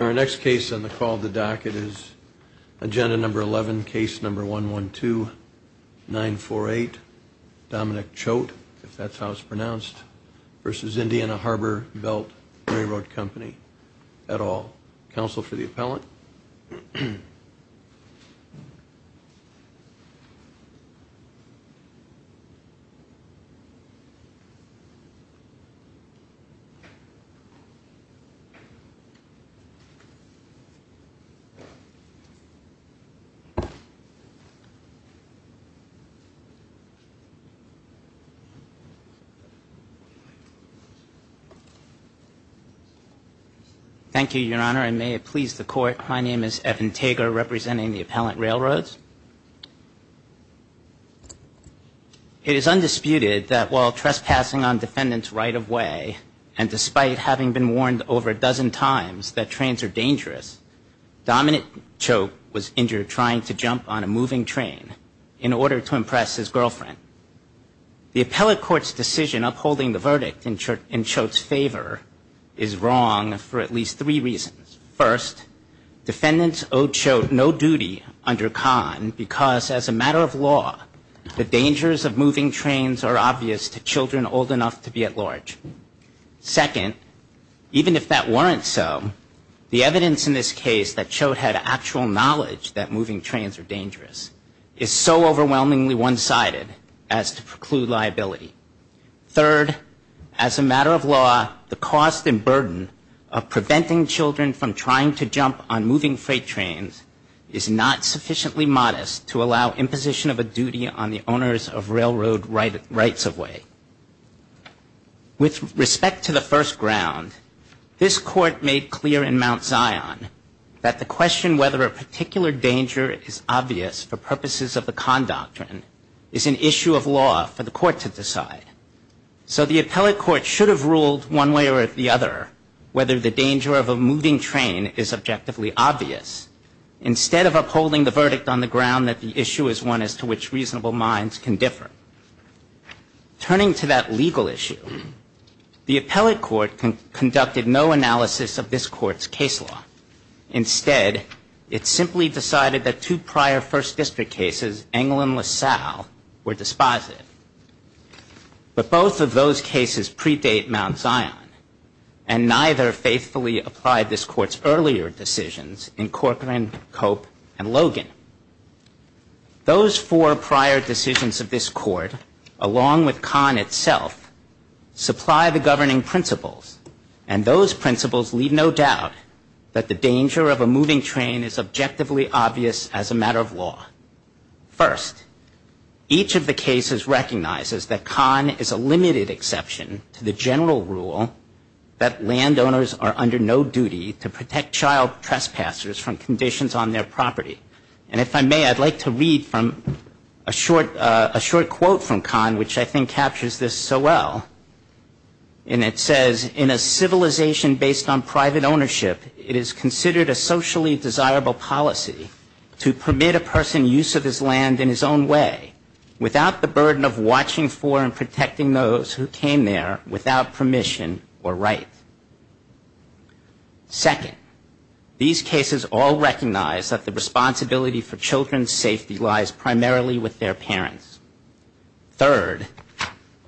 Our next case on the call of the docket is Agenda 11, Case 112-948, Dominic Choate v. Indiana Harbor Belt R.R. Co. At all. Counsel for the appellant. Thank you, Your Honor, and may it please the Court, my name is Evan Tager, representing the Appellant Railroads. It is undisputed that while trespassing on defendant's right-of-way, and despite having been warned over a dozen times that trains are dangerous, Dominic Choate was injured trying to jump on a moving train in order to impress his girlfriend. The appellate court's decision upholding the verdict in Choate's favor is wrong for at least three reasons. First, defendants owed Choate no duty under con because as a matter of law, the dangers of moving trains are obvious to children old enough to be at large. Second, even if that weren't so, the evidence in this case that Choate had actual knowledge that moving trains are dangerous is so overwhelmingly one-sided as to preclude liability. Third, as a matter of law, the cost and burden of preventing children from trying to jump on moving freight trains is not sufficiently modest to allow imposition of a duty on the owners of railroad rights-of-way. With respect to the first ground, this court made clear in Mount Zion that the question whether a particular danger is obvious for purposes of the con doctrine is an issue of law for the court to decide. So the appellate court should have ruled one way or the other whether the danger of a moving train is objectively obvious instead of upholding the verdict on the ground that the issue is one as to which reasonable minds can differ. Turning to that legal issue, the appellate court conducted no analysis of this court's case law. Instead, it simply decided that two prior First District cases, Engle and LaSalle, were dispositive. But both of those cases predate Mount Zion, and neither faithfully applied this court's earlier decisions in Corcoran, Cope, and Logan. Those four prior decisions of this court, along with Kahn itself, supply the governing principles, and those principles leave no doubt that the danger of a moving train is objectively obvious as a matter of law. First, each of the cases recognizes that Kahn is a limited exception to the general rule that landowners are under no duty to protect child trespassers from conditions on their property And if I may, I'd like to read from a short quote from Kahn, which I think captures this so well. And it says, in a civilization based on private ownership, it is considered a socially desirable policy to permit a person use of his land in his own way, without the burden of watching for and protecting those who came there without permission or right. Second, these cases all recognize that the responsibility for children's safety lies primarily with their parents. Third,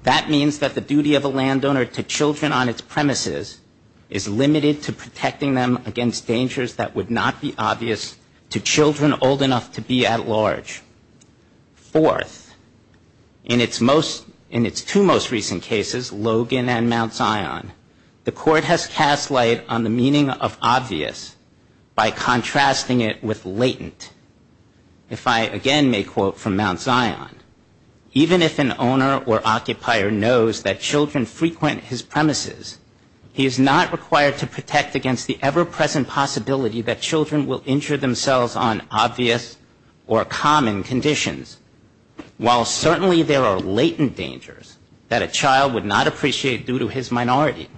that means that the duty of a landowner to children on its premises is limited to protecting them against dangers that would not be obvious to children old enough to be at large. Fourth, in its most, in its two most recent cases, Logan and Mount Zion, the court has cast light on the meaning of obvious by contrasting it with latent. If I again may quote from Mount Zion, even if an owner or occupier knows that children frequent his premises, he is not required to protect against the ever-present possibility that children will injure themselves on obvious or common conditions. While certainly there are latent dangers that a child would not appreciate due to his minority,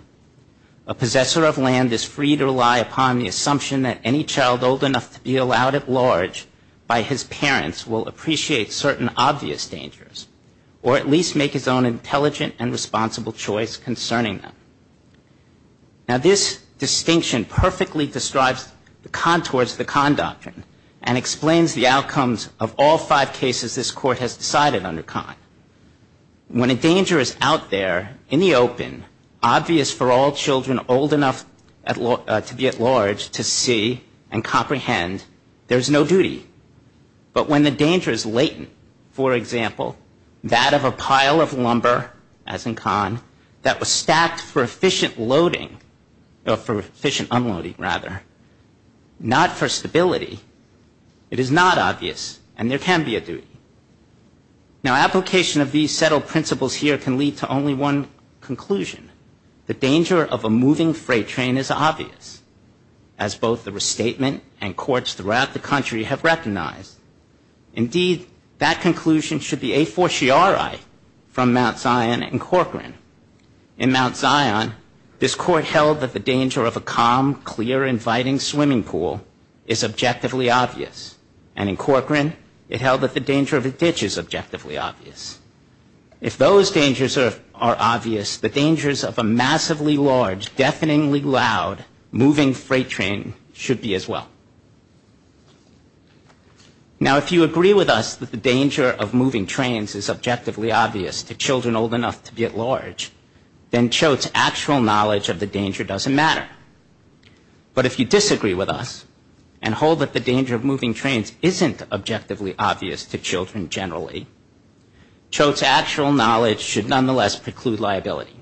a possessor of land is free to rely upon the assumption that any child old enough to be allowed at large by his parents will appreciate certain obvious dangers, or at least make his own intelligent and responsible choice concerning them. Now, this distinction perfectly describes the contours of the Kahn Doctrine and explains the outcomes of all five cases this Court has decided under Kahn. When a danger is out there in the open, and it is for all children old enough to be at large to see and comprehend, there is no duty. But when the danger is latent, for example, that of a pile of lumber, as in Kahn, that was stacked for efficient loading, or for efficient unloading, rather, not for stability, it is not obvious, and there can be a duty. Now, application of these settled principles here can lead to only one conclusion. The danger of a moving freight train is obvious, as both the restatement and courts throughout the country have recognized. Indeed, that conclusion should be a fortiori from Mount Zion and Corcoran. In Mount Zion, this Court held that the danger of a calm, clear, inviting swimming pool is objectively obvious. And in Corcoran, it held that the danger of a ditch is objectively obvious. If those dangers are obvious, the dangers of a massively large, deafeningly loud moving freight train should be as well. Now, if you agree with us that the danger of moving trains is objectively obvious to children old enough to be at large, then Choate's actual knowledge of the danger doesn't matter. But if you disagree with us, and hold that the danger of moving trains isn't objectively obvious to children generally, Choate's actual knowledge should nonetheless preclude liability.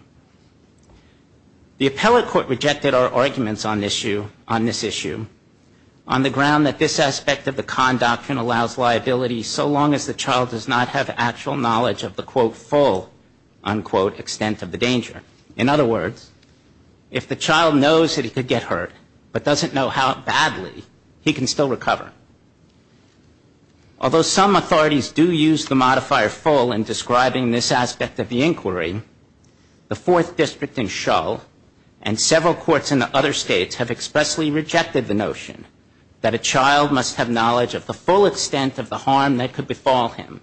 The appellate court rejected our arguments on this issue, on the ground that this aspect of the Kahn Doctrine allows liability so long as the child does not have actual knowledge of the, quote, full, unquote, extent of the danger. In other words, if the child knows that he could get hurt, but doesn't know how badly, he can still recover. Although some authorities do use the modifier full in describing this aspect of the inquiry, the Fourth District in Shull and several courts in the other states have expressly rejected the notion that a child must have knowledge of the full extent of the harm that could befall him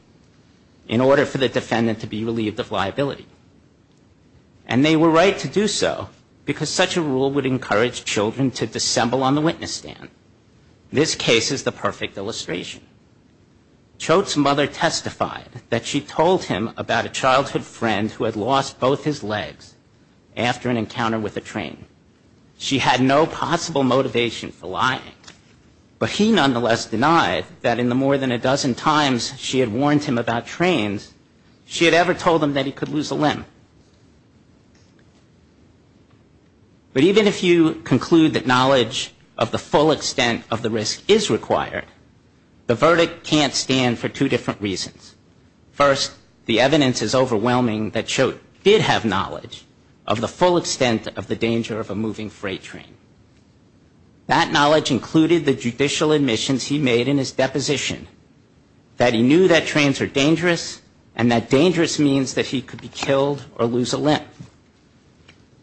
in order for the defendant to be relieved of liability. And they were right to do so, because such a rule would encourage children to dissemble on the witness stand. This case is the perfect illustration. Choate's mother testified that she told him about a childhood friend who had lost both his legs after an encounter with a train. She had no possible motivation for lying. But he nonetheless denied that in the more than a dozen times she had warned him about trains, she had ever told him that he could lose a limb. But even if you conclude that knowledge of the full extent of the risk is required, the verdict can't stand for two different reasons. First, the evidence is overwhelming that Choate did have knowledge of the full extent of the danger of a moving freight train. That knowledge included the judicial admissions he made in his deposition, that he knew that trains are dangerous, and that dangerous means that he could be killed or lose a limb.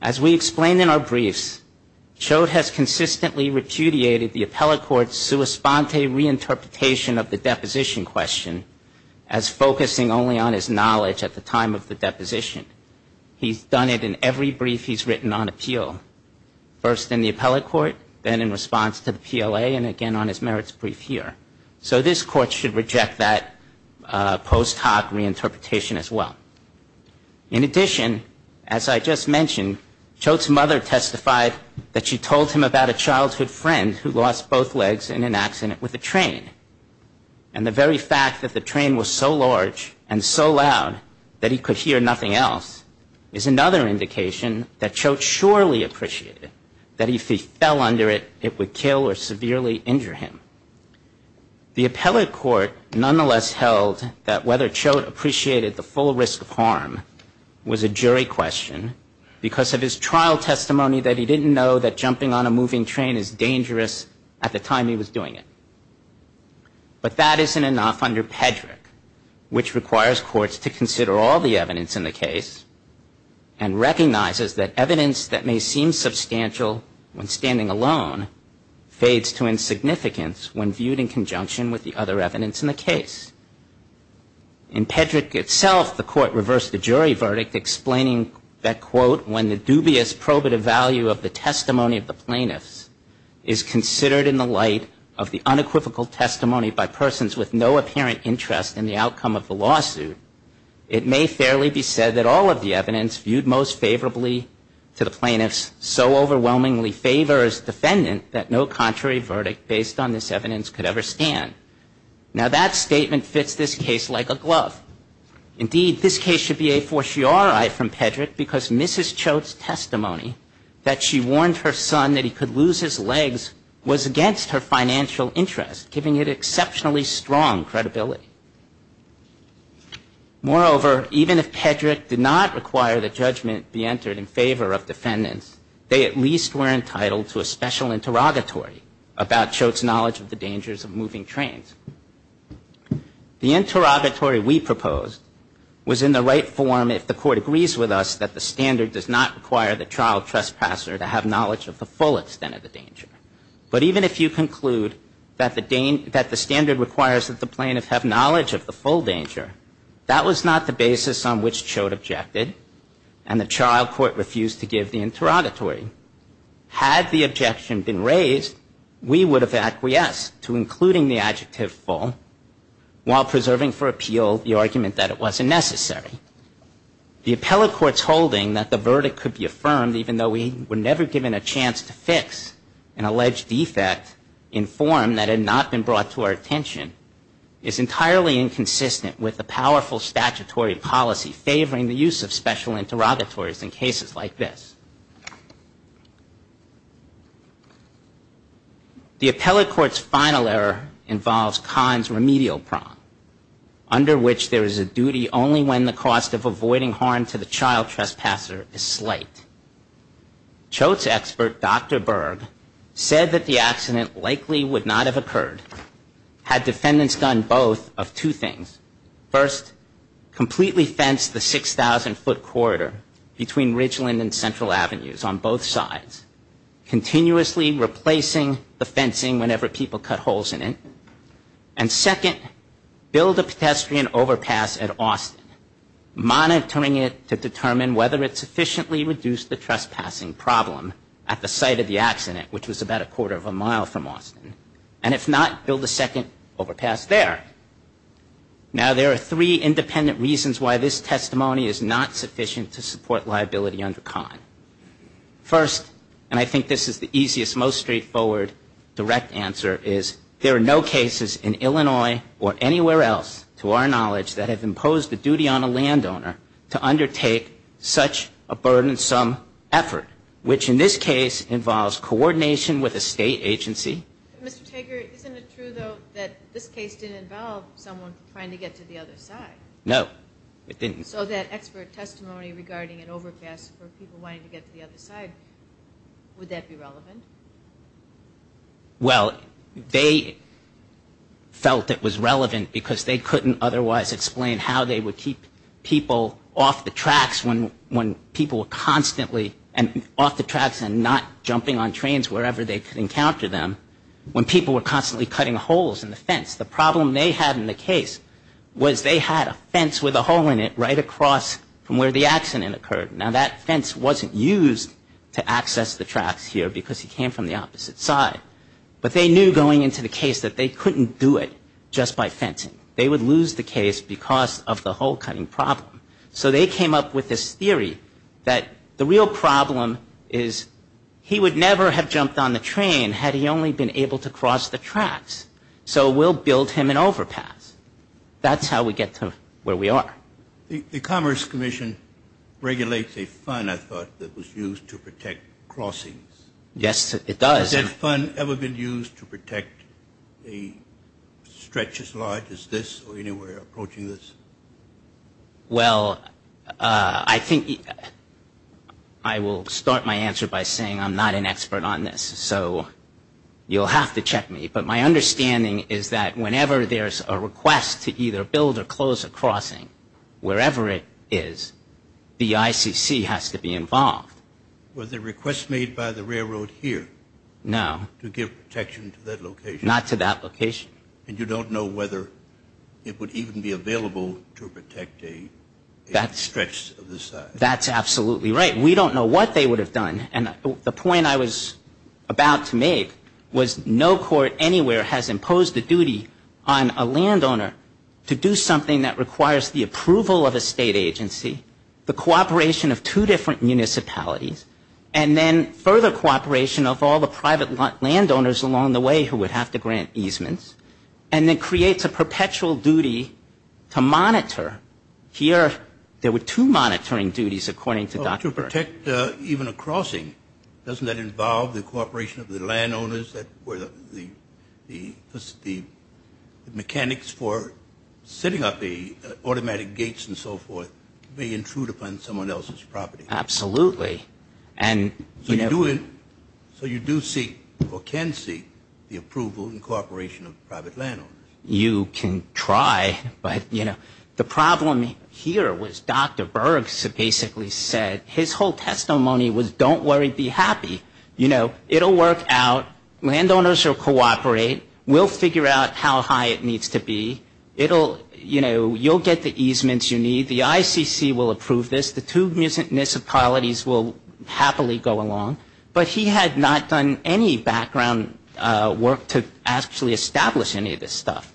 As we explained in our briefs, Choate has consistently repudiated the appellate court's sua sponte reinterpretation of the deposition question as focusing only on his knowledge at the time of the deposition. He's done it in every brief he's written on appeal, first in the appellate court, then in response to the PLA, and again on his merits brief here. So this court should reject that post hoc reinterpretation as well. In addition, as I just mentioned, Choate's mother testified that she told him about a childhood friend who lost both legs in an accident with a train. And the very fact that the train was so large and so loud that he could hear nothing else, is another indication that Choate surely appreciated that if he fell under it, it would kill or severely injure him. The appellate court nonetheless held that whether Choate appreciated the full risk of harm was a jury question, because of his trial testimony that he didn't know that jumping on a moving train is dangerous at the time he was doing it. But that isn't enough under Pedrick, which requires courts to consider all the evidence in the case, and recognizes that evidence that may seem substantial when standing alone, fades to insignificance when viewed in conjunction with the other evidence in the case. In Pedrick itself, the court reversed the jury verdict, explaining that, quote, when the dubious probative value of the testimony of the plaintiffs is considered in the light of the unequivocal testimony by persons with no apparent interest in the outcome of the lawsuit, it may fairly be said that all of the evidence viewed most favorably to the plaintiffs so overwhelmingly favor his defendant that no contrary verdict based on this evidence could ever stand. Now, that statement fits this case like a glove. Indeed, this case should be a fortiori from Pedrick, because Mrs. Choate's testimony that she warned her son that he could lose his legs was against her financial interest, giving it exceptionally strong credibility. Moreover, even if Pedrick did not require the judgment be entered in favor of defendants, they at least were entitled to a special interrogatory about Choate's knowledge of the dangers of moving trains. The interrogatory we proposed was in the right form if the court agrees with us that the standard does not require the child trespasser to have knowledge of the full extent of the danger. But even if you conclude that the standard requires that the plaintiff have knowledge of the full danger, that was not the basis on which Choate objected, and the trial court refused to give the interrogatory. Had the objection been raised, we would have acquiesced to including the adjective full while preserving for appeal the argument that it wasn't necessary. The appellate court's holding that the verdict could be affirmed, even though we were never given a chance to fix an alleged defect in form that had not been brought to our attention, is entirely inconsistent with the powerful statutory policy favoring the use of special interrogatories in cases like this. The appellate court's final error involves Kahn's remedial prong, under which there is a duty only when the cause of the crime is determined. The cost of avoiding harm to the child trespasser is slight. Choate's expert, Dr. Berg, said that the accident likely would not have occurred had defendants done both of two things. First, completely fence the 6,000-foot corridor between Ridgeland and Central Avenues on both sides, continuously replacing the fencing whenever people cut holes in it. And second, build a pedestrian overpass at Austin, monitoring it to determine whether it sufficiently reduced the trespassing problem at the site of the accident, which was about a quarter of a mile from Austin. And if not, build a second overpass there. Now, there are three independent reasons why this testimony is not sufficient to support liability under Kahn. First, and I think this is the easiest, most straightforward, direct answer, is there are no cases in Illinois or anywhere else, to our knowledge, that have imposed the duty on a landowner to undertake such a burdensome effort, which in this case involves coordination with a State agency. But, Mr. Tager, isn't it true, though, that this case didn't involve someone trying to get to the other side? No, it didn't. So that expert testimony regarding an overpass for people wanting to get to the other side, would that be relevant? Well, they felt it was relevant because they couldn't otherwise explain how they would keep people off the tracks when people were constantly off the tracks and not jumping on trains wherever they could encounter them. When people were constantly cutting holes in the fence, the problem they had in the case was they had a fence with a hole in it right across from where the accident occurred. Now, that fence wasn't used to access the tracks here because he came from the opposite side. But they knew going into the case that they couldn't do it just by fencing. They would lose the case because of the hole-cutting problem. So they came up with this theory that the real problem is he would never have jumped on the train had he only been able to cross the tracks. So we'll build him an overpass. That's how we get to where we are. The Commerce Commission regulates a fund, I thought, that was used to protect crossings. Yes, it does. Has that fund ever been used to protect a stretch as large as this or anywhere approaching this? Well, I think I will start my answer by saying I'm not an expert on this, so you'll have to check me. But my understanding is that whenever there's a request to either build or close a crossing, wherever it is, the ICC has to be involved. Was the request made by the railroad here to give protection to that location? Not to that location. And you don't know whether it would even be available to protect a stretch of this size? That's absolutely right. We don't know what they would have done. And the point I was about to make was no court anywhere has imposed the duty on a landowner to do something that requires the approval of a state agency, the cooperation of two different municipalities, and then further cooperation of all the private landowners along the way who would have to grant easements, and then creates a perpetual duty to monitor. Here there were two monitoring duties, according to Dr. Burns. To protect even a crossing, doesn't that involve the cooperation of the landowners that were the mechanics for setting up the automatic gates and so forth? They intrude upon someone else's property. Absolutely. So you do seek, or can seek, the approval and cooperation of private landowners? You can try, but, you know, the problem here was Dr. Burns basically said his whole testimony was don't worry, be happy. You know, it will work out. Landowners will cooperate. We'll figure out how high it needs to be. You'll get the easements you need. The ICC will approve this. The two municipalities will happily go along. But he had not done any background work to actually establish any of this stuff.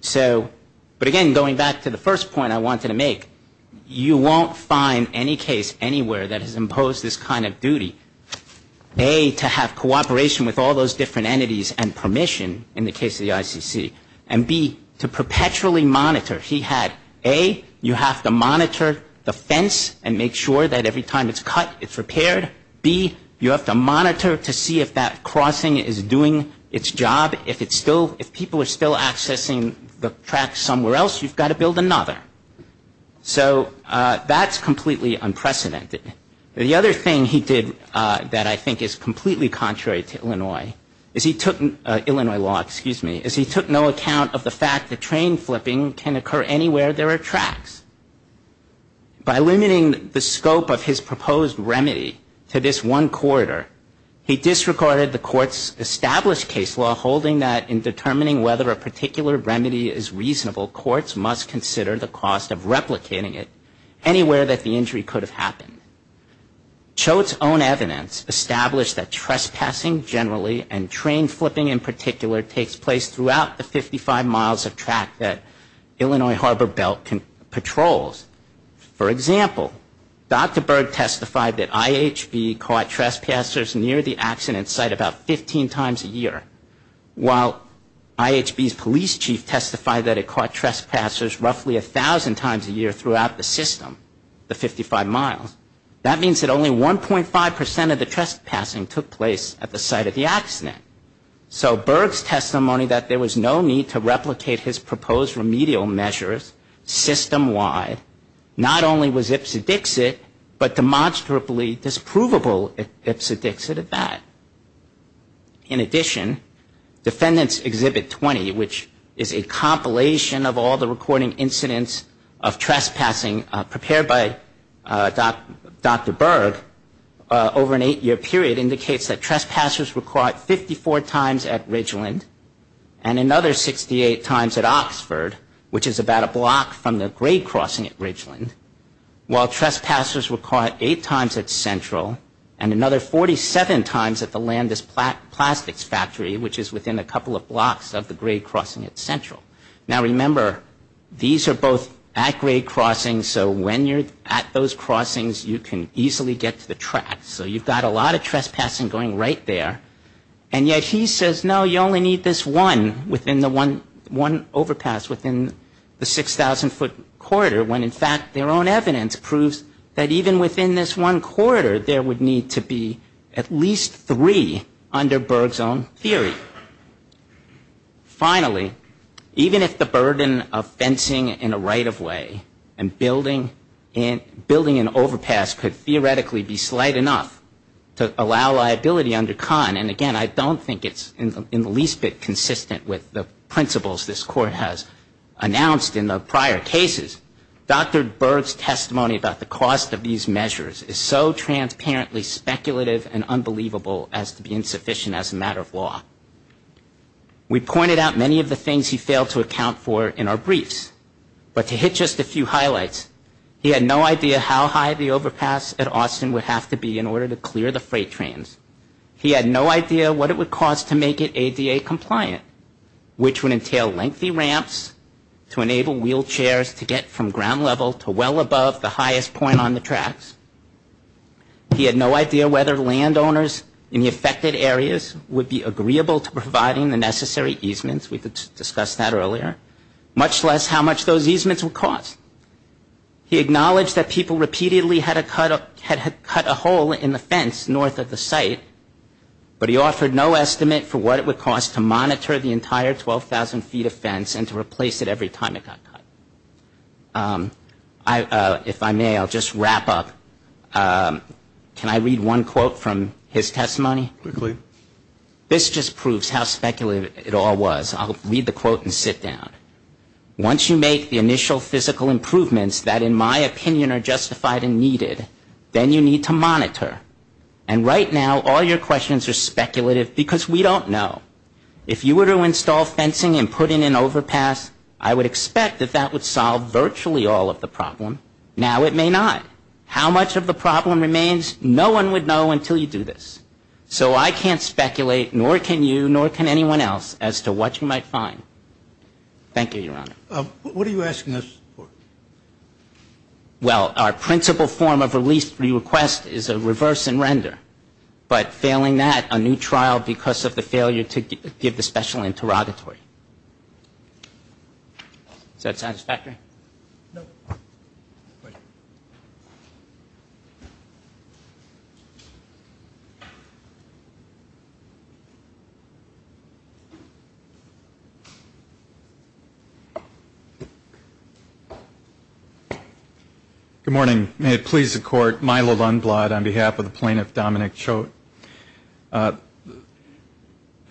So, but again, going back to the first point I wanted to make, you won't find any case anywhere that has imposed this kind of duty. A, to have cooperation with all those different entities and permission in the case of the ICC. And B, to perpetually monitor. He had A, you have to monitor the fence and make sure that every time it's cut, it's repaired. B, you have to monitor to see if that crossing is doing its job. If it's still, if people are still accessing the track somewhere else, you've got to build another. So that's completely unprecedented. The other thing he did that I think is completely contrary to Illinois is he took, Illinois law, excuse me, is he took no account of the fact that train flipping can occur anywhere there are tracks. By limiting the scope of his proposed remedy to this one corridor, he disregarded the court's established case law holding that in determining whether a particular remedy is reasonable, courts must consider the cost of replicating it anywhere that the injury could have happened. Choate's own evidence established that trespassing generally, and train flipping in particular, takes place throughout the 55 miles of track that Illinois Harbor Belt patrols. For example, Dr. Berg testified that IHB caught trespassers near the accident site about 15 times a year, while IHB's police chief testified that it caught trespassers roughly 1,000 times a year throughout the system, the 55 miles. That means that only 1.5% of the trespassing took place at the site of the accident. So Berg's testimony that there was no need to replicate his proposed remedial measures systemwide, not only was ipsedixit, but demonstrably disprovable ipsedixit at that. In addition, Defendant's Exhibit 20, which is a compilation of all the recording incidents of trespassing prepared by Dr. Berg over an eight-year period, indicates that trespassers were caught 54 times at Ridgeland and another 68 times at Oxford, which is about a block from the grade crossing at Ridgeland, while trespassers were caught eight times at Central and another 47 times at the Landis Plastics Factory, which is within a couple of blocks of the grade crossing at Central. Now, remember, these are both at grade crossings, so when you're at those crossings, you can easily get to the track. So you've got a lot of trespassing going right there. And yet he says, no, you only need this one overpass within the 6,000-foot corridor, when in fact their own evidence proves that even within this one corridor, there would need to be at least three under Berg's own theory. Finally, even if the burden of fencing in a right-of-way and building an overpass could theoretically be slight enough to allow liability under Kahn, and again, I don't think it's in the least bit consistent with the principles this Court has announced in the prior cases, Dr. Berg's testimony about the cost of these measures is so transparently speculative and unbelievable as to be insufficient as a matter of law. We pointed out many of the things he failed to account for in our briefs, but to hit just a few highlights, he had no idea how high the overpass at Austin would have to be in order to clear the freight trains. He had no idea what it would cost to make it ADA compliant, which would entail lengthy ramps to enable wheelchairs to get from ground level to well above the highest point on the tracks. He had no idea whether landowners in the affected areas would be agreeable to providing the necessary easements, we discussed that earlier, much less how much those easements would cost. He acknowledged that people repeatedly had cut a hole in the fence north of the site, but he offered no estimate for what it would cost to monitor the entire 12,000 feet of fence and to replace it every time it got cut. If I may, I'll just wrap up. Can I read one quote from his testimony? This just proves how speculative it all was. I'll read the quote and sit down. Once you make the initial physical improvements that in my opinion are justified and needed, then you need to monitor. And right now all your questions are speculative because we don't know. If you were to install fencing and put in an overpass, I would expect that that would solve virtually all of the problem. Now it may not. How much of the problem remains, no one would know until you do this. So I can't speculate, nor can you, nor can anyone else, as to what you might find. Thank you, Your Honor. What are you asking us for? Well, our principal form of release re-request is a reverse and render. But failing that, a new trial because of the failure to give the special interrogatory. Is that satisfactory? No. Good morning. May it please the court. Milo Lundblad on behalf of the plaintiff, Dominic Choate.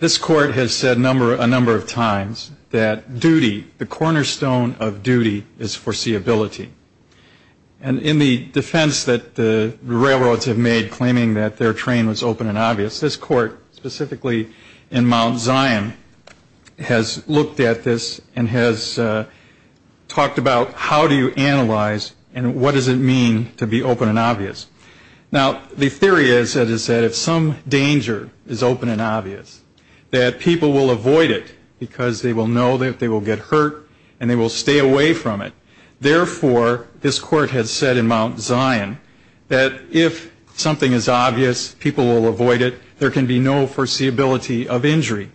This court has said a number of times that duty, the cornerstone of duty, is foreseeability. And in the defense that the railroads have made, claiming that their train was open and obvious, this court, specifically in Mount Zion, has looked at this and has talked about how do you analyze and what does it mean to be open and obvious. Now the theory is, as I said, if some danger is open and obvious, that people will avoid it because they will know that they will get hurt and they will stay away from it. Therefore, this court has said in Mount Zion, that if something is obvious, people will avoid it. There can be no foreseeability of injury.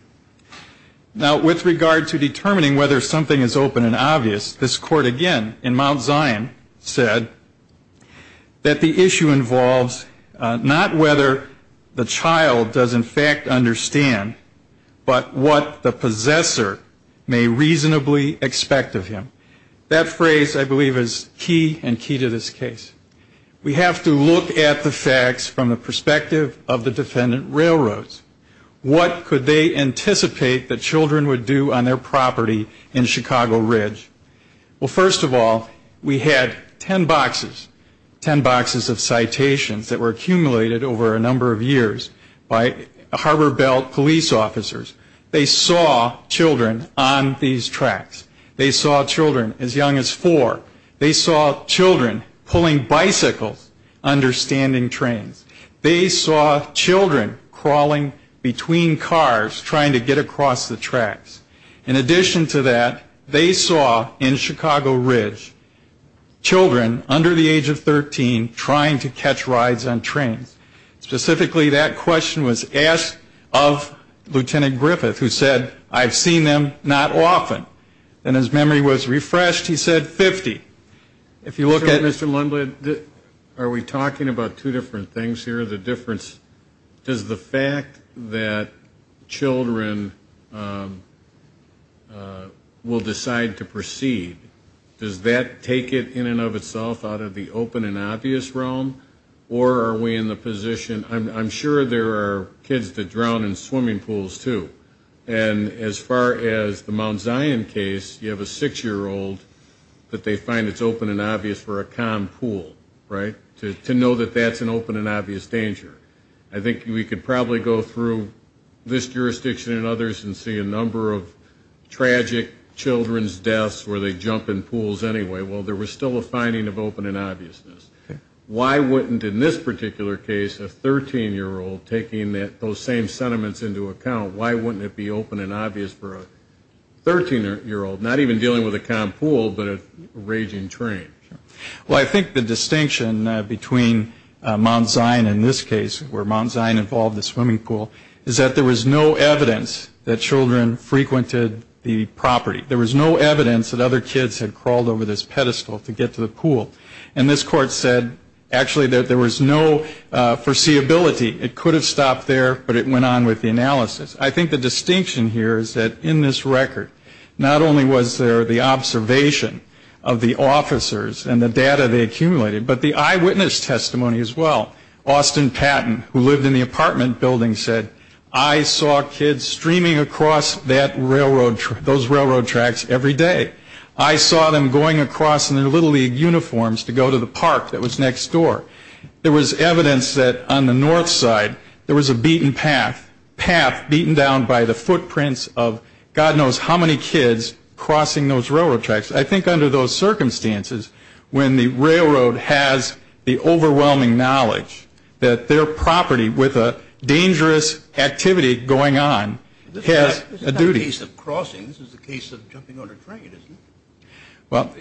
Now with regard to determining whether something is open and obvious, this court again, in Mount Zion, said that the issue involves not whether the child does in fact understand, but what the possessor may reasonably expect of him. That phrase, I believe, is key and key to this case. We have to look at the facts from the perspective of the defendant railroads. What could they anticipate that children would do on their property in Chicago Ridge? Well, first of all, we had ten boxes, ten boxes of citations that were accumulated over a number of years by Harbor Belt police officers. They saw children on these tracks. They saw children as young as four. They saw children pulling bicycles under standing trains. They saw children crawling between cars trying to get across the tracks. In addition to that, they saw in Chicago Ridge children under the age of 13 trying to catch rides on trains. Specifically that question was asked of Lieutenant Griffith, who said, I've seen them not often. And his memory was refreshed. He said 50. If you look at Mr. Lundlid, are we talking about two different things here? Does the fact that children will decide to proceed, does that take it in and of itself out of the open and obvious realm? Or are we in the position, I'm sure there are kids that drown in swimming pools, too. And as far as the Mount Zion case, you have a six-year-old that they find it's open and obvious for a calm pool, right? To know that that's an open and obvious danger. I think we could probably go through this jurisdiction and others and see a number of tragic children's deaths where they jump in pools anyway, while there was still a finding of open and obviousness. Why wouldn't in this particular case, a 13-year-old taking those same sentiments into account, why wouldn't it be open and obvious for a 13-year-old, not even dealing with a calm pool, but a raging train? Well, I think the distinction between Mount Zion in this case, where Mount Zion involved the swimming pool, is that there was no evidence that children frequented the property. There was no evidence that other kids had crawled over this pedestal to get to the pool. And this court said, actually, that there was no foreseeability. It could have stopped there, but it went on with the analysis. I think the distinction here is that in this record, not only was there the observation of the officers and the data they accumulated, but the eyewitness testimony as well. Austin Patton, who lived in the apartment building, said, I saw kids streaming across those railroad tracks every day. I saw them going across in their Little League uniforms to go to the park that was next door. There was evidence that on the north side, there was a beaten path, a path beaten down by the footprints of God knows how many kids crossing those railroad tracks. I think under those circumstances, when the railroad has the overwhelming knowledge that their property with a dangerous activity going on has a duty. This is not a case of crossing. This is a case of jumping on a train, isn't it? Well,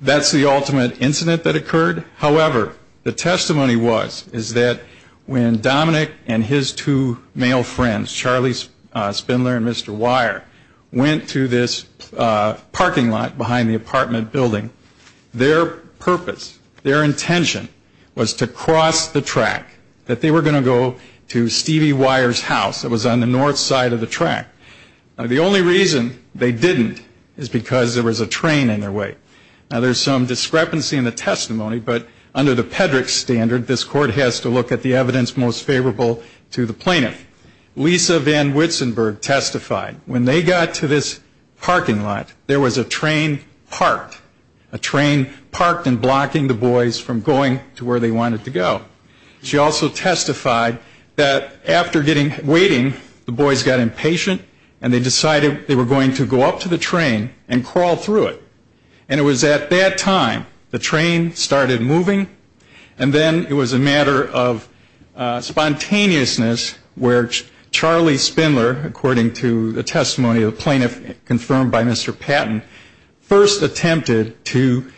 that's the ultimate incident that occurred. However, the testimony was, is that when Dominick and his two male friends, Charlie Spindler and Mr. Wire, went to this parking lot in the apartment building, their purpose, their intention was to cross the track, that they were going to go to Stevie Wire's house that was on the north side of the track. The only reason they didn't is because there was a train in their way. Now, there's some discrepancy in the testimony, but under the Pedrick standard, this court has to look at the evidence most favorable to the plaintiff. Lisa Van Witsenberg testified when they got to this parking lot, there was a train parked. A train parked and blocking the boys from going to where they wanted to go. She also testified that after getting, waiting, the boys got impatient and they decided they were going to go up to the train and crawl through it. And it was at that time the train started moving, and then it was a matter of spontaneousness where Charlie Spindler, according to the testimony of the plaintiff confirmed by Mr. Patton, first attempted to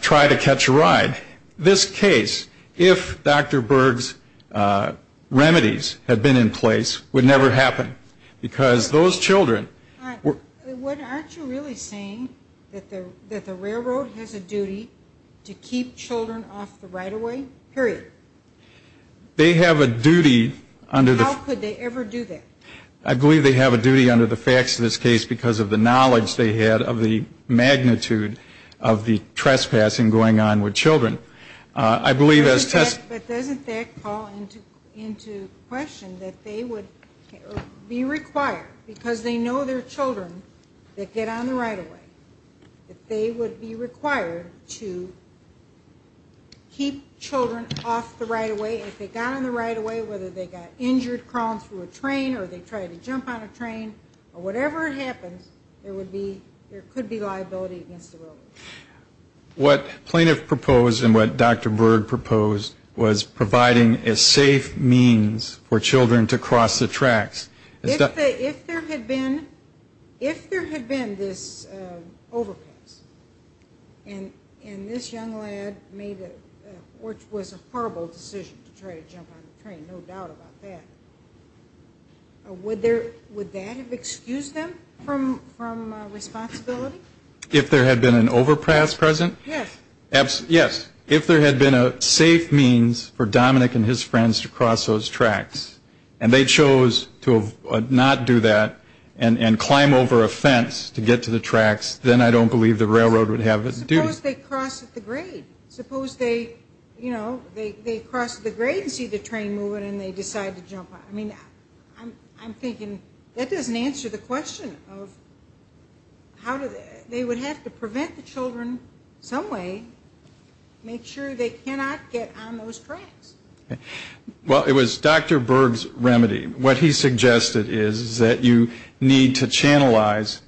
try to catch a ride. This case, if Dr. Berg's remedies had been in place, would never happen. Because those children were... Aren't you really saying that the railroad has a duty to keep children off the right-of-way, period? They have a duty under the... How could they ever do that? I believe they have a duty under the facts of this case because of the knowledge they had of the magnitude of the trespassing going on with children. I believe as test... But doesn't that call into question that they would be required, because they know they're children that get on the right-of-way, that they get off the right-of-way, and if they got on the right-of-way, whether they got injured crawling through a train or they tried to jump on a train, or whatever happens, there would be, there could be liability against the railroad. What plaintiff proposed and what Dr. Berg proposed was providing a safe means for children to cross the tracks. If there had been, if there had been this overpass, and this young lad made a, which was a horrible mistake, horrible decision to try to jump on the train, no doubt about that. Would that have excused them from responsibility? If there had been an overpass present? Yes. If there had been a safe means for Dominick and his friends to cross those tracks, and they chose to not do that and climb over a fence to get to the overpass, and they cross the grade and see the train moving and they decide to jump on it. I mean, I'm thinking that doesn't answer the question of how do they, they would have to prevent the children some way, make sure they cannot get on those tracks. Well, it was Dr. Berg's remedy. What he suggested is that you need to channelize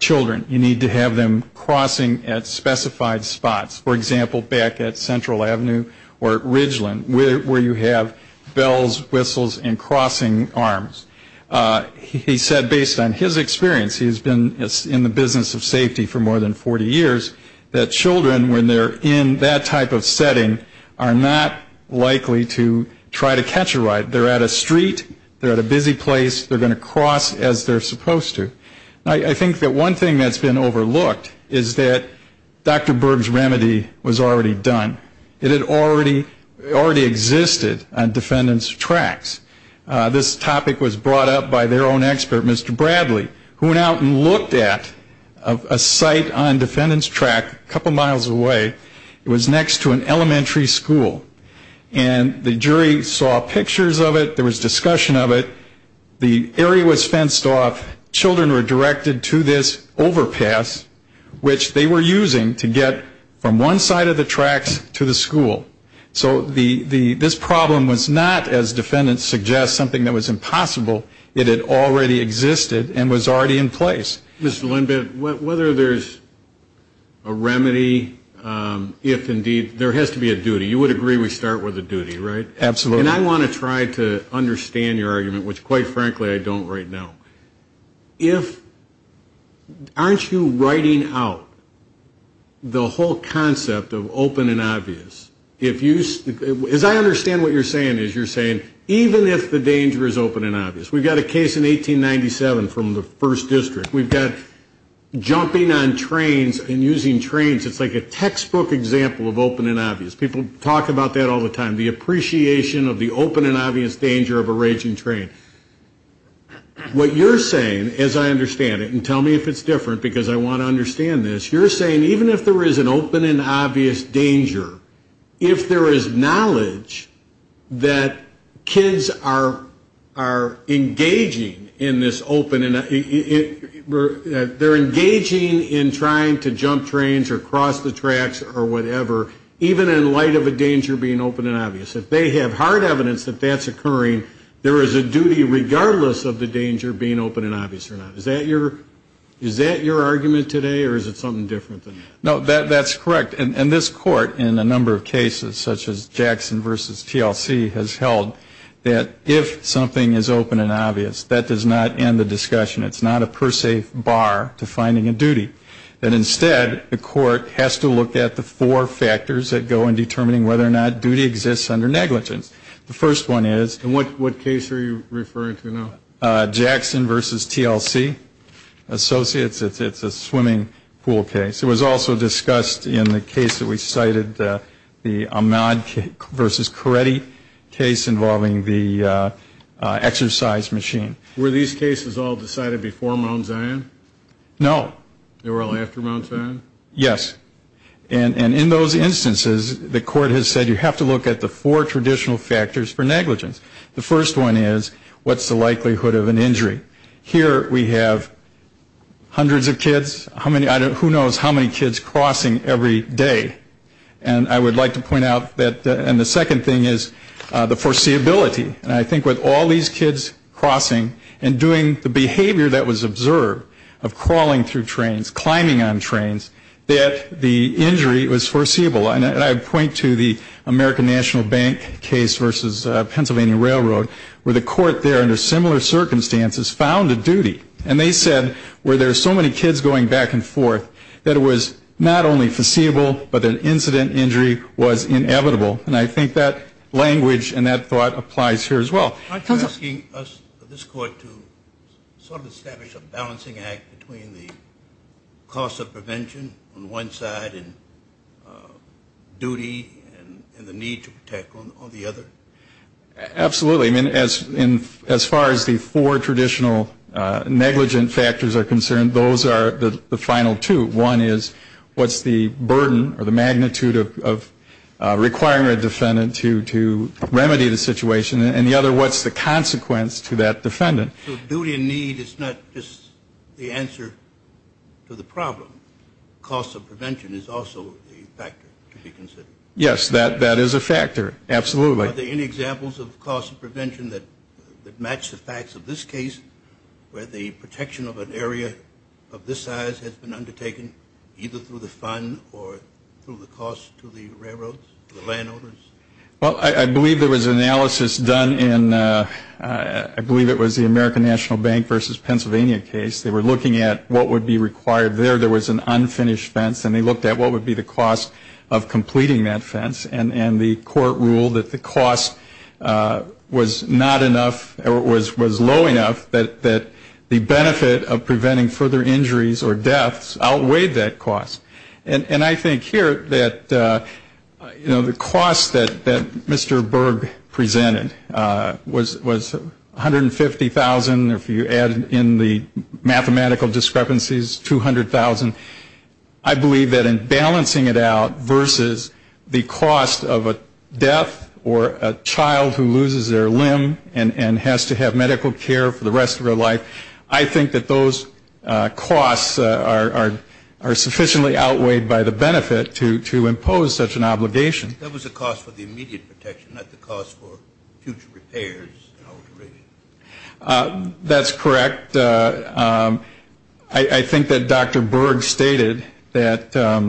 children. You need to have them crossing at where you have bells, whistles, and crossing arms. He said based on his experience, he's been in the business of safety for more than 40 years, that children when they're in that type of setting are not likely to try to catch a ride. They're at a street, they're at a busy place, they're going to cross as they're supposed to. I think that one thing that's been overlooked is that Dr. Berg's remedy was already done. It had already existed on defendants' tracks. This topic was brought up by their own expert, Mr. Bradley, who went out and looked at a site on defendants' track a couple miles away. It was next to an elementary school, and the jury saw pictures of it. There was discussion of it. The area was fenced off. Children were directed to this overpass, which they were using to get from one side of the tracks to the school. So this problem was not, as defendants suggest, something that was impossible. It had already existed and was already in place. Mr. Lindberg, whether there's a remedy, if indeed, there has to be a duty. You would agree we start with a duty, right? And I want to try to understand your argument, which quite frankly, I don't right now. If, aren't you writing out the whole concept of open and obvious? As I understand what you're saying, you're saying even if the danger is open and obvious. We've got a case in 1897 from the first district. We've got jumping on trains and using trains. It's like a textbook example of open and obvious. People talk about that all the time, the appreciation of the open and obvious danger of a raging train. What you're saying, as I understand it, and tell me if it's different, because I want to understand this. You're saying even if there is an open and obvious danger, if there is knowledge that kids are engaging in this open and obvious danger, they're engaging in trying to jump trains or cross the tracks or whatever, even in light of a danger being open and obvious. If they have hard evidence that that's occurring, there is a duty regardless of the danger being open and obvious or not. Is that your argument today, or is it something different than that? No, that's correct. And this court in a number of cases such as Jackson v. TLC has held that if something is open and obvious, that does not end the discussion. It's not a per se bar to finding a duty. Instead, the court has to look at the four factors that go in determining whether or not duty exists under negligence. The first one is. And what case are you referring to now? Jackson v. TLC, Associates. It's a swimming pool case. It was also discussed in the case that we cited, the Ahmad v. Coretti case involving the exercise machine. Were these cases all decided before Mount Zion? No. They were all after Mount Zion? Yes. And in those instances, the court has said you have to look at the four traditional factors for negligence. The first one is, what's the likelihood of an injury? Here we have hundreds of kids. Who knows how many kids crossing every day? And I would like to point out that the second thing is the foreseeability. And I think with all these kids crossing and doing the behavior that was observed of crawling through trains, climbing on trains, that the injury was foreseeable. And I point to the American National Bank case versus Pennsylvania Railroad, where the court there under similar circumstances found a duty. And they said where there are so many kids going back and forth, that it was not only foreseeable, but that incident injury was inevitable. And I think that language and that thought applies here as well. Aren't you asking this court to sort of establish a balancing act between the cost of prevention on one side and duty and the need to protect on the other? Absolutely. I mean, as far as the four traditional negligent factors are concerned, those are the final two. One is, what's the burden or the magnitude of requiring a defendant to remedy the situation? And the other, what's the consequence to that defendant? So duty and need is not just the answer to the problem. Cost of prevention is also a factor to be considered. Yes, that is a factor. Absolutely. Are there any examples of cost of prevention that match the facts of this case, where the protection of an area of this size has been undertaken either through the fund or through the cost to the railroads, the landowners? Well, I believe there was analysis done in, I believe it was the American National Bank versus Pennsylvania case. They were looking at what would be required there. There was an unfinished fence, and they looked at what would be the cost of completing that fence. And the court ruled that the cost was not enough, or it was low enough, that the benefit of preventing further injuries or deaths outweighed that cost. And I think here that, you know, the cost that Mr. Berg presented was $150,000. If you add in the mathematical discrepancies, $200,000. I believe that in balancing it out versus the cost of a death or a child who loses their limb and has to have medical care for the rest of their life, I think that those costs are sufficiently outweighed by the benefit to impose such an obligation. That was a cost for the immediate protection, not the cost for future repairs and alterations. That's correct. I think that Dr. Berg stated that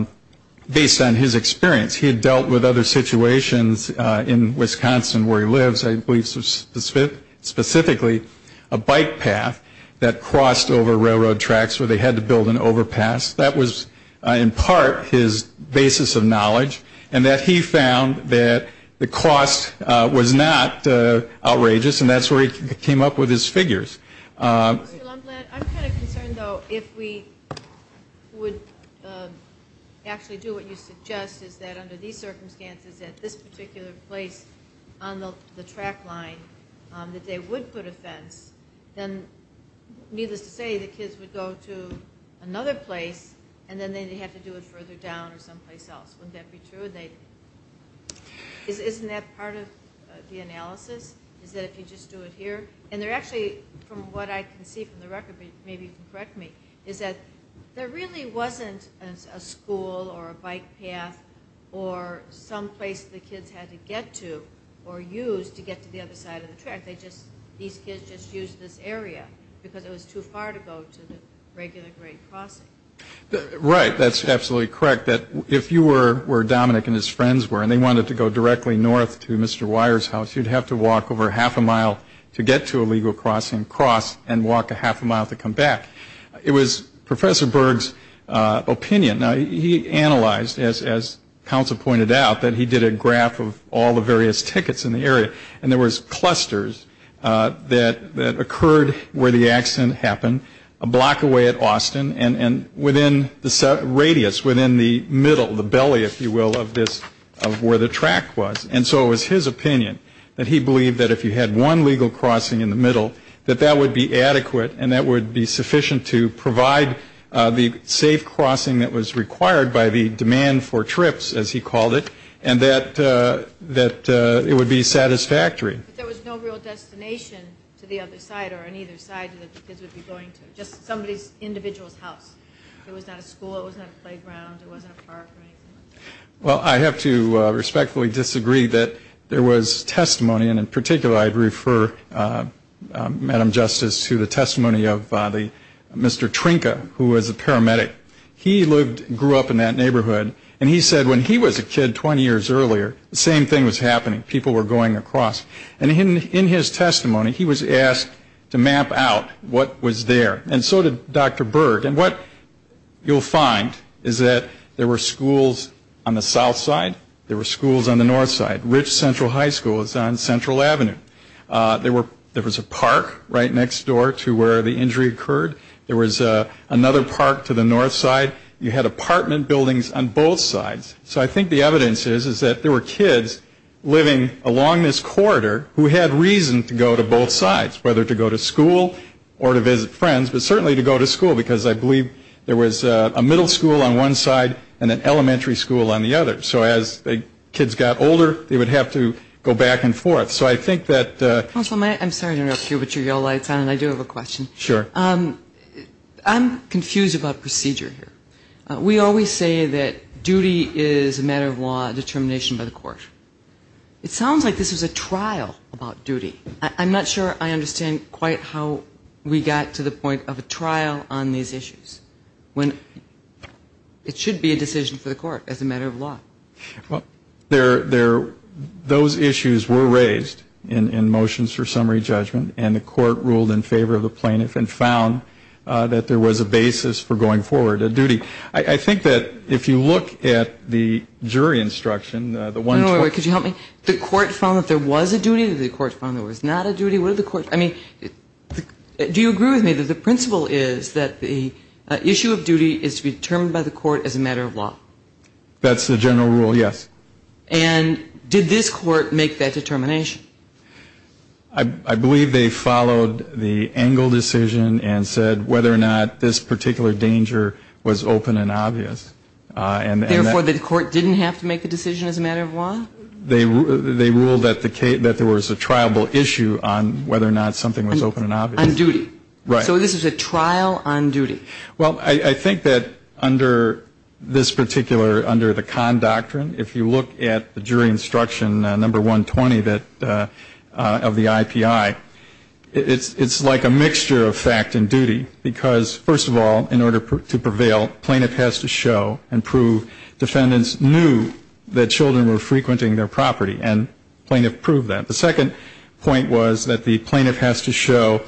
based on his experience, he had dealt with other situations in Wisconsin where he lives, I believe specifically a bike path that crossed over railroad tracks where they had to build an overpass. That was in part his basis of knowledge, and that he found that the cost was not outrageous, and that's where he came up with his figures. I'm kind of concerned, though, if we would actually do what you suggest, is that under these circumstances at this particular place on the track line that they would put a fence, then needless to say the kids would go to another place, and then they'd have to do it further down or someplace else. Wouldn't that be true? Isn't that part of the analysis, is that if you just do it here? And they're actually, from what I can see from the record, maybe you can correct me, is that there really wasn't a school or a bike path or someplace the kids had to get to or use to get to the other side of the track. These kids just used this area because it was too far to go to the regular grade crossing. Right. That's absolutely correct. If you were where Dominic and his friends were, and they wanted to go directly north to Mr. Wire's house, you'd have to walk over half a mile to get to a legal crossing, cross, and walk a half a mile to come back. It was Professor Berg's opinion. Now, he analyzed, as counsel pointed out, that he did a graph of all the various tickets in the area, and there was clusters that occurred where the accident happened a block away at Austin, and within the radius, within the middle, the belly, if you will, of where the track was. And so it was his opinion that he believed that if you had one legal crossing in the middle, that that would be adequate and that would be sufficient to provide the safe crossing that was required by the demand for trips, as he called it, and that it would be satisfactory. But there was no real destination to the other side or on either side that the kids would be going to, just somebody's individual's house. There was not a school. There was not a playground. There wasn't a park or anything like that. Well, I have to respectfully disagree that there was testimony, and in particular I'd refer, Madam Justice, to the testimony of Mr. Trinka, who was a paramedic. He grew up in that neighborhood, and he said when he was a kid 20 years earlier, the same thing was happening. People were going across. And in his testimony, he was asked to map out what was there, and so did Dr. Berg. And what you'll find is that there were schools on the south side. There were schools on the north side. Rich Central High School was on Central Avenue. There was a park right next door to where the injury occurred. There was another park to the north side. You had apartment buildings on both sides. So I think the evidence is that there were kids living along this corridor who had reason to go to both sides, whether to go to school or to visit friends, but certainly to go to school, because I believe there was a middle school on one side and an elementary school on the other. So as the kids got older, they would have to go back and forth. So I think that the ‑‑ Counsel, I'm sorry to interrupt you, but your yellow light is on, and I do have a question. Sure. I'm confused about procedure here. We always say that duty is a matter of law, determination by the court. It sounds like this was a trial about duty. I'm not sure I understand quite how we got to the point of a trial on these issues, when it should be a decision for the court as a matter of law. Those issues were raised in motions for summary judgment, and the court ruled in favor of the plaintiff and found that there was a basis for going forward, a duty. I think that if you look at the jury instruction, the one ‑‑ Wait, wait, wait. Could you help me? The court found that there was a duty, the court found there was not a duty. What did the court ‑‑ I mean, do you agree with me that the principle is that the issue of duty is to be determined by the court as a matter of law? That's the general rule, yes. And did this court make that determination? I believe they followed the Engle decision and said whether or not this particular danger was open and obvious. Therefore, the court didn't have to make a decision as a matter of law? They ruled that there was a triable issue on whether or not something was open and obvious. On duty. Right. So this was a trial on duty. Well, I think that under this particular, under the con doctrine, if you look at the jury instruction number 120 of the IPI, it's like a mixture of fact and duty because, first of all, in order to prevail, plaintiff has to show and prove defendants knew that children were frequenting their property and plaintiff proved that. The second point was that the plaintiff has to show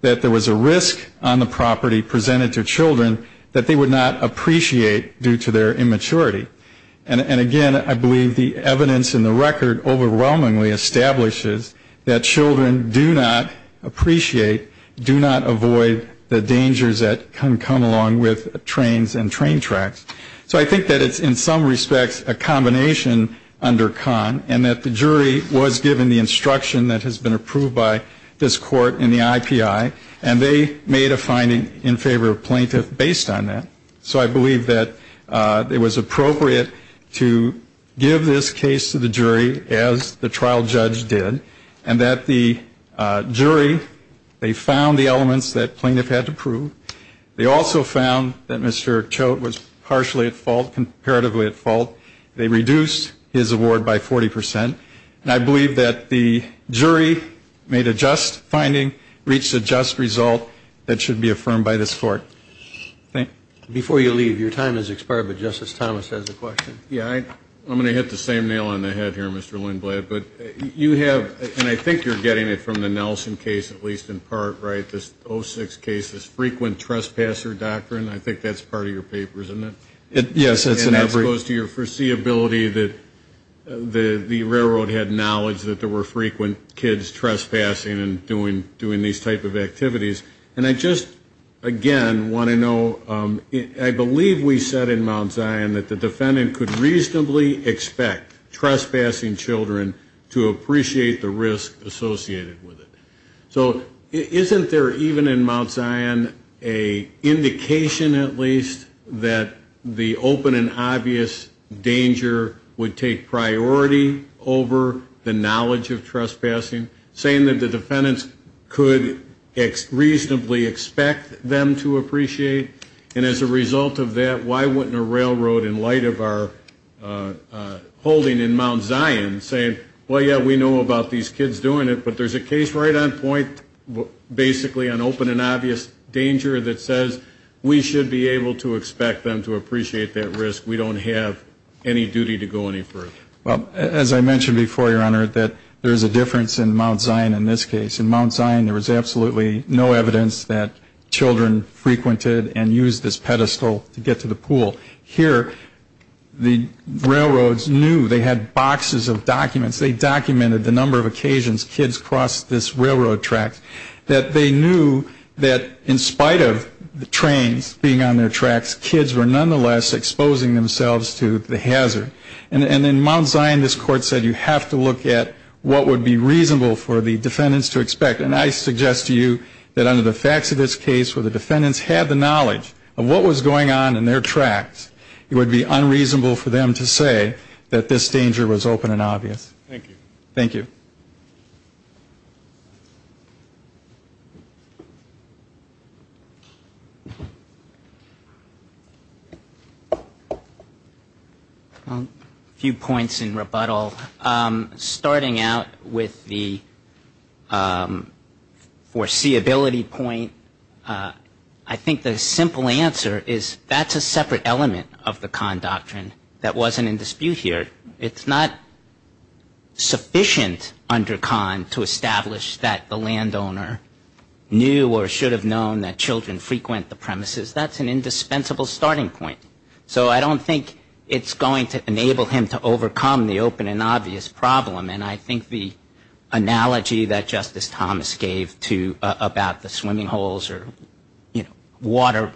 that there was a risk on the property presented to children that they would not appreciate due to their immaturity. And, again, I believe the evidence in the record overwhelmingly establishes that children do not appreciate, do not avoid the dangers that can come along with trains and train tracks. So I think that it's, in some respects, a combination under con and that the jury was given the instruction that has been approved by this court in the IPI and they made a finding in favor of plaintiff based on that. So I believe that it was appropriate to give this case to the jury as the trial judge did and that the jury, they found the elements that plaintiff had to prove. They also found that Mr. Choate was partially at fault, comparatively at fault. They reduced his award by 40%. And I believe that the jury made a just finding, reached a just result that should be affirmed by this court. Thank you. Before you leave, your time has expired, but Justice Thomas has a question. Yeah, I'm going to hit the same nail on the head here, Mr. Lindblad, but you have, and I think you're getting it from the Nelson case at least in part, right, this 06 case, this frequent trespasser doctrine. I think that's part of your papers, isn't it? Yes, it's in every. And that goes to your foreseeability that the railroad had knowledge that there were frequent kids trespassing and doing these type of activities. And I just, again, want to know, I believe we said in Mount Zion that the defendant could reasonably expect trespassing children to appreciate the risk associated with it. So isn't there even in Mount Zion an indication at least that the open and obvious danger would take priority over the knowledge of trespassing, saying that the defendants could reasonably expect them to appreciate? And as a result of that, why wouldn't a railroad in light of our holding in Mount Zion saying, well, yeah, we know about these kids doing it, but there's a case right on point basically on open and obvious danger that says we should be able to expect them to appreciate that risk. We don't have any duty to go any further. Well, as I mentioned before, Your Honor, that there's a difference in Mount Zion in this case. In Mount Zion there was absolutely no evidence that children frequented and used this pedestal to get to the pool. Here the railroads knew they had boxes of documents. They documented the number of occasions kids crossed this railroad track, that they knew that in spite of the trains being on their tracks, kids were nonetheless exposing themselves to the hazard. And in Mount Zion this Court said you have to look at what would be reasonable for the defendants to expect. And I suggest to you that under the facts of this case where the defendants had the knowledge of what was going on in their tracks, it would be unreasonable for them to say that this danger was open and obvious. Thank you. Thank you. A few points in rebuttal. Starting out with the foreseeability point, I think the simple answer is that's a separate element of the Kahn Doctrine that wasn't in dispute here. establish that the landowner knew or should have known that children frequent the premises. That's an indispensable starting point. So I don't think it's going to enable him to overcome the open and obvious problem. And I think the analogy that Justice Thomas gave about the swimming holes or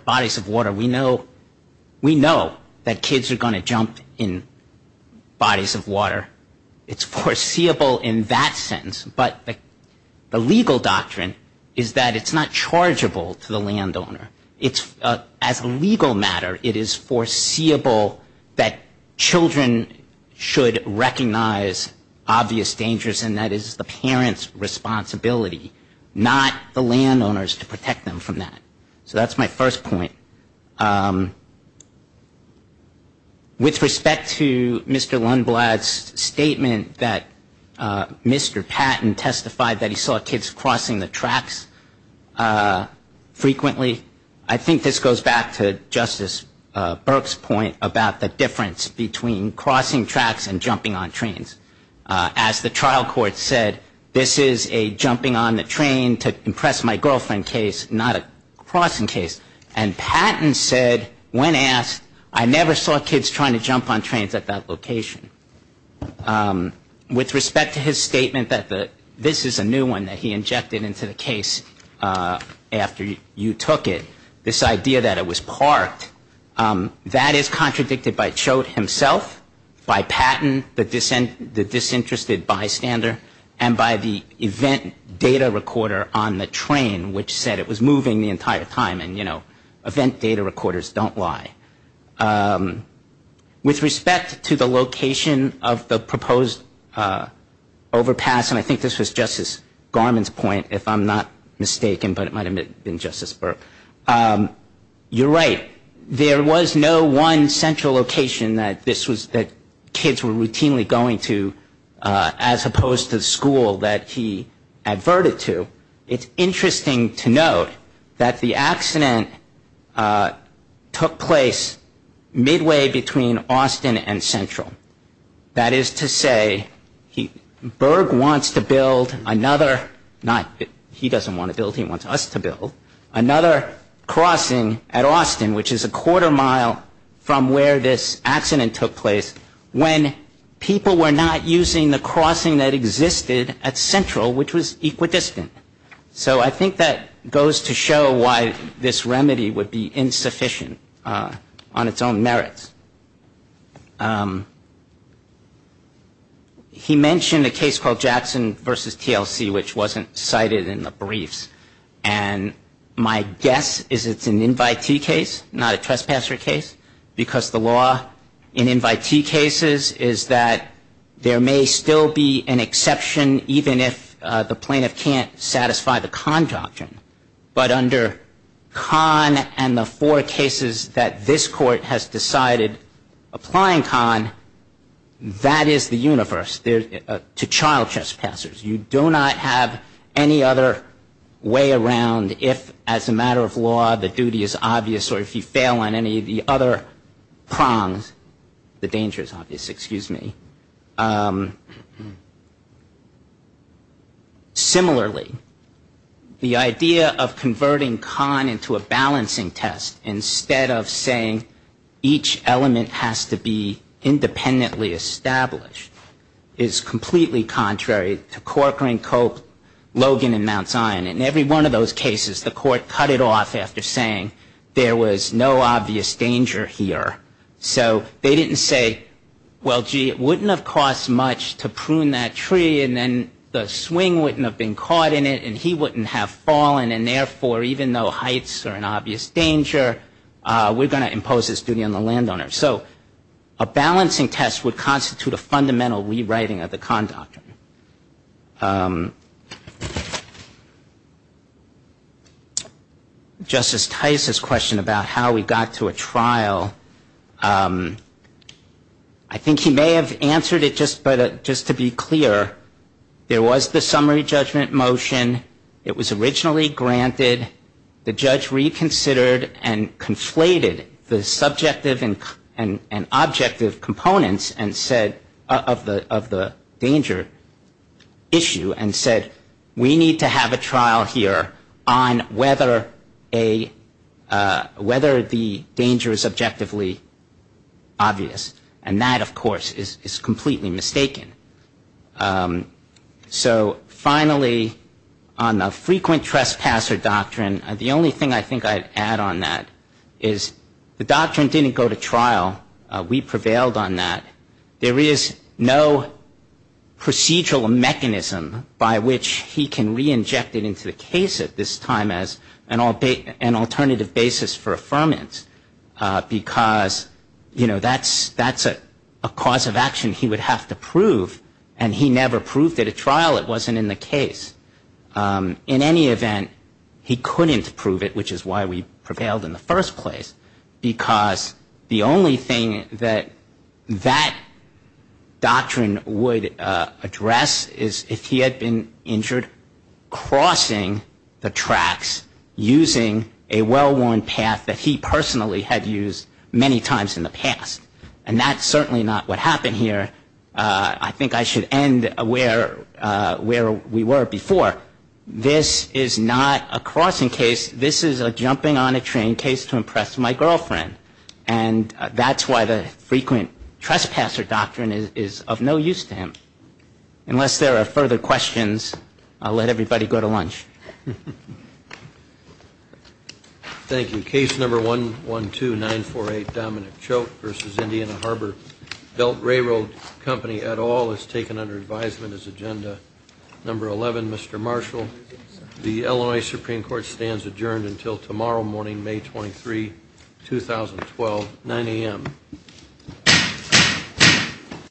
bodies of water, we know that kids are going to jump in bodies of water. It's foreseeable in that sense. But the legal doctrine is that it's not chargeable to the landowner. As a legal matter, it is foreseeable that children should recognize obvious dangers, and that is the parent's responsibility, not the landowner's, to protect them from that. So that's my first point. With respect to Mr. Lundblad's statement that Mr. Patton testified that he saw kids crossing the tracks frequently, I think this goes back to Justice Burke's point about the difference between crossing tracks and jumping on trains. As the trial court said, this is a jumping on the train to impress my girlfriend case, not a crossing case. And Patton said, when asked, I never saw kids trying to jump on trains at that location. With respect to his statement that this is a new one that he injected into the case after you took it, this idea that it was parked, that is contradicted by Choate himself, by Patton, the disinterested bystander, and by the event data recorder on the train, which said it was moving the entire time. And, you know, event data recorders don't lie. With respect to the location of the proposed overpass, and I think this was Justice Garmon's point, if I'm not mistaken, but it might have been Justice Burke, you're right. There was no one central location that kids were routinely going to as opposed to the school that he adverted to. It's interesting to note that the accident took place midway between Austin and Central. That is to say, Burke wants to build another, not that he doesn't want to build, he wants us to build, another crossing at Austin, which is a quarter mile from where this accident took place, when people were not using the crossing that existed at Central, which was equidistant. So I think that goes to show why this remedy would be insufficient on its own merits. He mentioned a case called Jackson v. TLC, which wasn't cited in the briefs. And my guess is it's an invitee case, not a trespasser case, because the law in invitee cases is that there may still be an exception, even if the plaintiff can't satisfy the con doctrine. But under con and the four cases that this Court has decided applying con, that is the universe to child trespassers. You do not have any other way around if, as a matter of law, the duty is obvious or if you fail on any of the other prongs, the danger is obvious, excuse me. Similarly, the idea of converting con into a balancing test, instead of saying each element has to be independently established, is completely contrary to Corcoran, Cope, Logan, and Mount Zion. In every one of those cases, the Court cut it off after saying there was no obvious danger here. So they didn't say, well, gee, it wouldn't have cost much to prune that tree, and then the swing wouldn't have been caught in it, and he wouldn't have fallen. And therefore, even though heights are an obvious danger, we're going to impose this duty on the landowner. So a balancing test would constitute a fundamental rewriting of the con doctrine. Justice Tice's question about how we got to a trial, I think he may have answered it just to be clear. There was the summary judgment motion. It was originally granted. The judge reconsidered and conflated the subjective and objective components of the danger, and said we need to have a trial here on whether the danger is objectively obvious. And that, of course, is completely mistaken. So finally, on the frequent trespasser doctrine, the only thing I think I'd add on that is the doctrine didn't go to trial. We prevailed on that. There is no procedural mechanism by which he can reinject it into the case at this time as an alternative basis for affirmance, because, you know, that's a cause of action he would have to prove, and he never proved at a trial it wasn't in the case. In any event, he couldn't prove it, which is why we prevailed in the first place, because the only thing that that doctrine would address is if he had been injured crossing the tracks using a well-worn path that he personally had used many times in the past. And that's certainly not what happened here. I think I should end where we were before. This is not a crossing case. This is a jumping-on-a-train case to impress my girlfriend. And that's why the frequent trespasser doctrine is of no use to him. Unless there are further questions, I'll let everybody go to lunch. Thank you. Case number 112948, Dominic Choke v. Indiana Harbor Belt Railroad Company, et al., is taken under advisement as agenda. Number 11, Mr. Marshall, the Illinois Supreme Court stands adjourned until tomorrow morning, May 23, 2012, 9 a.m.